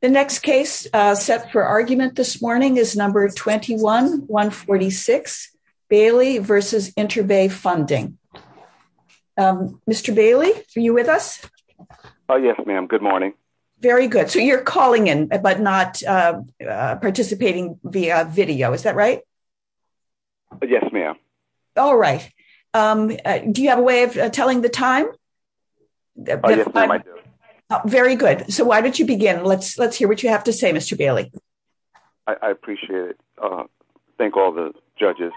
The next case set for argument this morning is number 21-146, Bailey v. Interbay Funding. Mr. Bailey, are you with us? Yes, ma'am. Good morning. Very good. So you're calling in but not participating via video, is that right? Yes, ma'am. All right. Do you have a way of telling the time? Yes, I do. Very good. So why don't you begin? Let's hear what you have to say, Mr. Bailey. I appreciate it. Thank all the judges.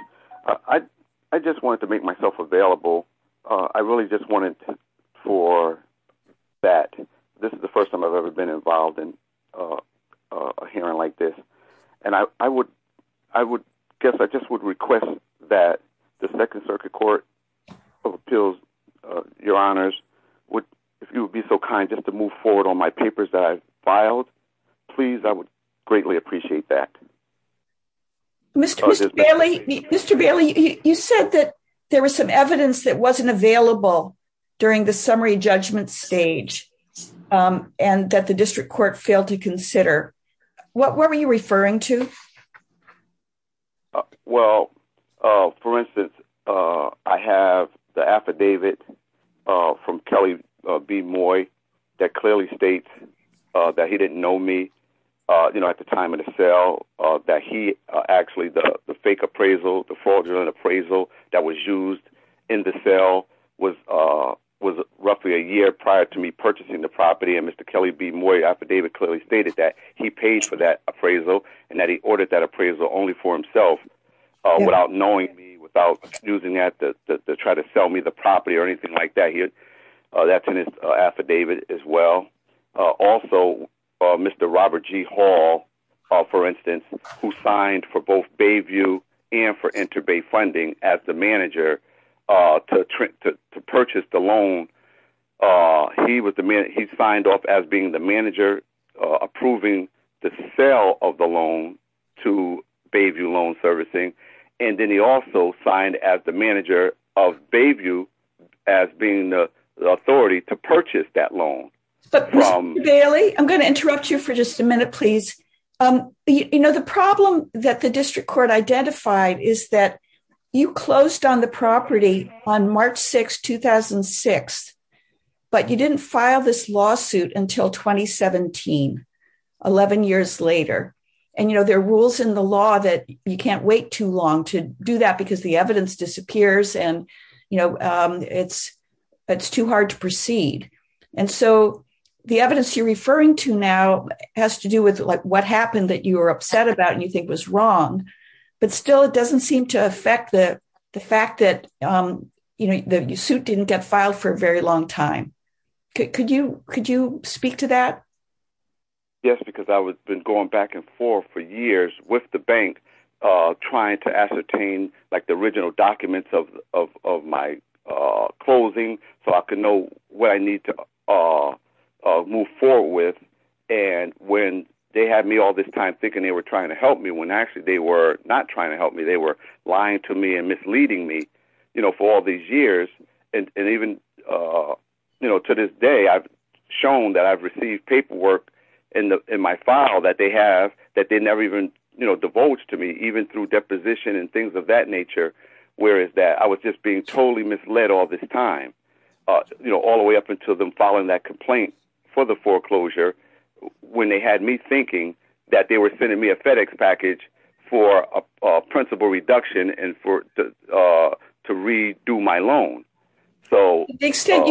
I just wanted to make myself available. I really just wanted for that. This is the first time I've ever been involved in a hearing like this. And I guess I just would request that the Second Circuit Court of Appeals, your honors, if you would be so kind just to move forward on my papers that I've filed, please, I would greatly appreciate that. Mr. Bailey, you said that there was some evidence that wasn't available during the summary judgment stage and that the district court failed to approve it. From Kelly B. Moy, that clearly states that he didn't know me at the time of the sale, that he actually, the fake appraisal, the fraudulent appraisal that was used in the sale was roughly a year prior to me purchasing the property. And Mr. Kelly B. Moy's affidavit clearly stated that he paid for that appraisal and that he ordered that appraisal only for himself without knowing me, without using that to try to sell me the property or anything like that. That's in his affidavit as well. Also, Mr. Robert G. Hall, for instance, who signed for both Bayview and for Interbay Funding as the manager to purchase the loan, he was the man, he signed off as being the manager approving the sale of the loan to Bayview Loan Servicing. And then he also signed as the manager of Bayview as being the authority to purchase that loan. Mr. Bailey, I'm going to interrupt you for just a minute, please. You know, the problem that the district court identified is that you closed on the property on March 6, 2006, but you didn't file this lawsuit until 2017, 11 years later. And you know, there are rules in the law that you can't wait too long to do that because the evidence disappears and it's too hard to proceed. And so the evidence you're referring to now has to do with what happened that you were upset about and you think was wrong, but still it doesn't seem to affect the fact that, you know, the suit didn't get filed for a very long time. Could you speak to that? Yes, because I was been going back and forth for years with the bank, trying to ascertain like the original documents of my closing, so I could know what I need to move forward with. And when they had me all this time thinking they were trying to help me when actually they were not trying to help me, they were lying to me and misleading me, you know, for all these years. And even, you know, to this day, I've shown that I've received paperwork in my file that they have that they never even, you know, devoted to me, even through deposition and things of that nature. Whereas that I was just being totally misled all this time, you know, all the way up until them filing that complaint for the foreclosure, when they had me thinking that they were sending me a FedEx package for a principal reduction and for to redo my loan. To the extent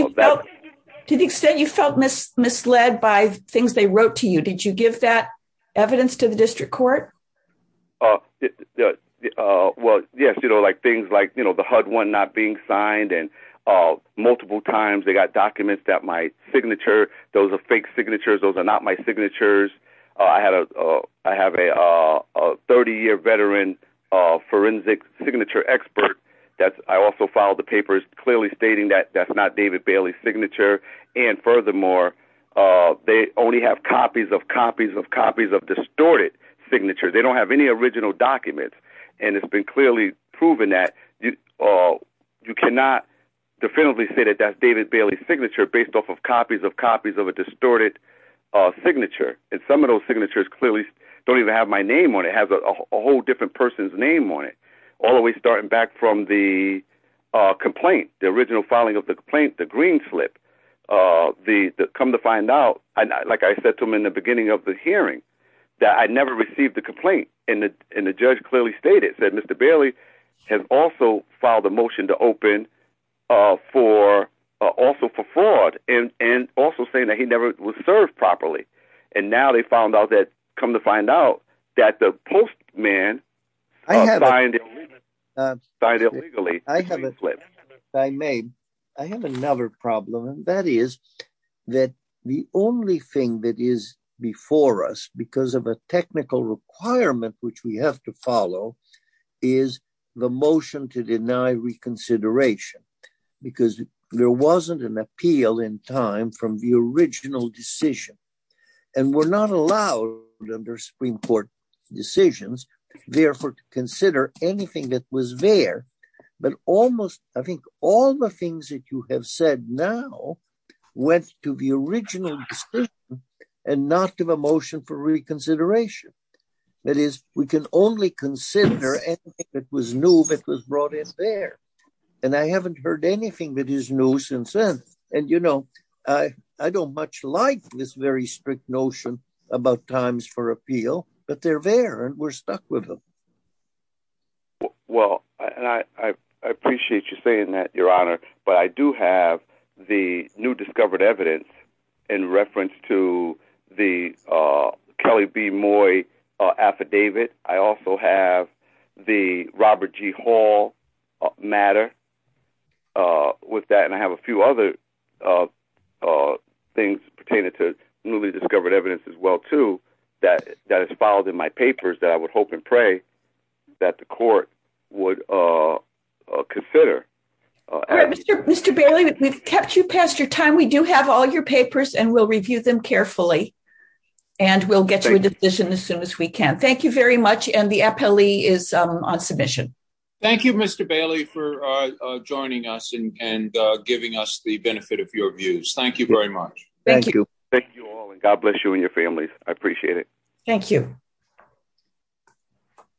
you felt misled by things they wrote to you, did you give that evidence to the district court? Well, yes, you know, like things like, you know, the HUD one not being signed and multiple times they got documents that my signature, those are fake signatures, those are not my signatures. I have a 30-year veteran forensic signature expert that I also filed the papers clearly stating that that's not David Bailey's signature. And furthermore, they only have copies of copies of copies of distorted signatures. They don't have any original documents. And it's been clearly proven that you cannot definitively say that that's a signature. And some of those signatures clearly don't even have my name on it, it has a whole different person's name on it. All the way starting back from the complaint, the original filing of the complaint, the green slip, come to find out, like I said to him in the beginning of the hearing, that I never received the complaint. And the judge clearly stated, said Mr. Bailey has also filed a motion to open for also for fraud and also saying that he never was served properly. And now they found out that, come to find out, that the postman signed it illegally. I may, I have another problem and that is that the only thing that is before us because of a because there wasn't an appeal in time from the original decision and we're not allowed under Supreme Court decisions therefore to consider anything that was there. But almost, I think all the things that you have said now went to the original decision and not to the motion for reconsideration. That is, we can only consider anything that was new that was brought there. And I haven't heard anything that is new since then. And you know, I don't much like this very strict notion about times for appeal, but they're there and we're stuck with them. Well, and I appreciate you saying that, Your Honor, but I do have the new discovered evidence in reference to the Kelly B. Moy affidavit. I also have the Robert G. Hall matter with that, and I have a few other things pertaining to newly discovered evidence as well too that is filed in my papers that I would hope and pray that the court would consider. All right, Mr. Bailey, we've kept you past your time. We do have all your papers and we'll review them carefully and we'll get to a decision as soon as we can. Thank you very much. And the appellee is on submission. Thank you, Mr. Bailey, for joining us and giving us the benefit of your views. Thank you very much. Thank you. Thank you all and God bless you and your families. I appreciate it. Thank you.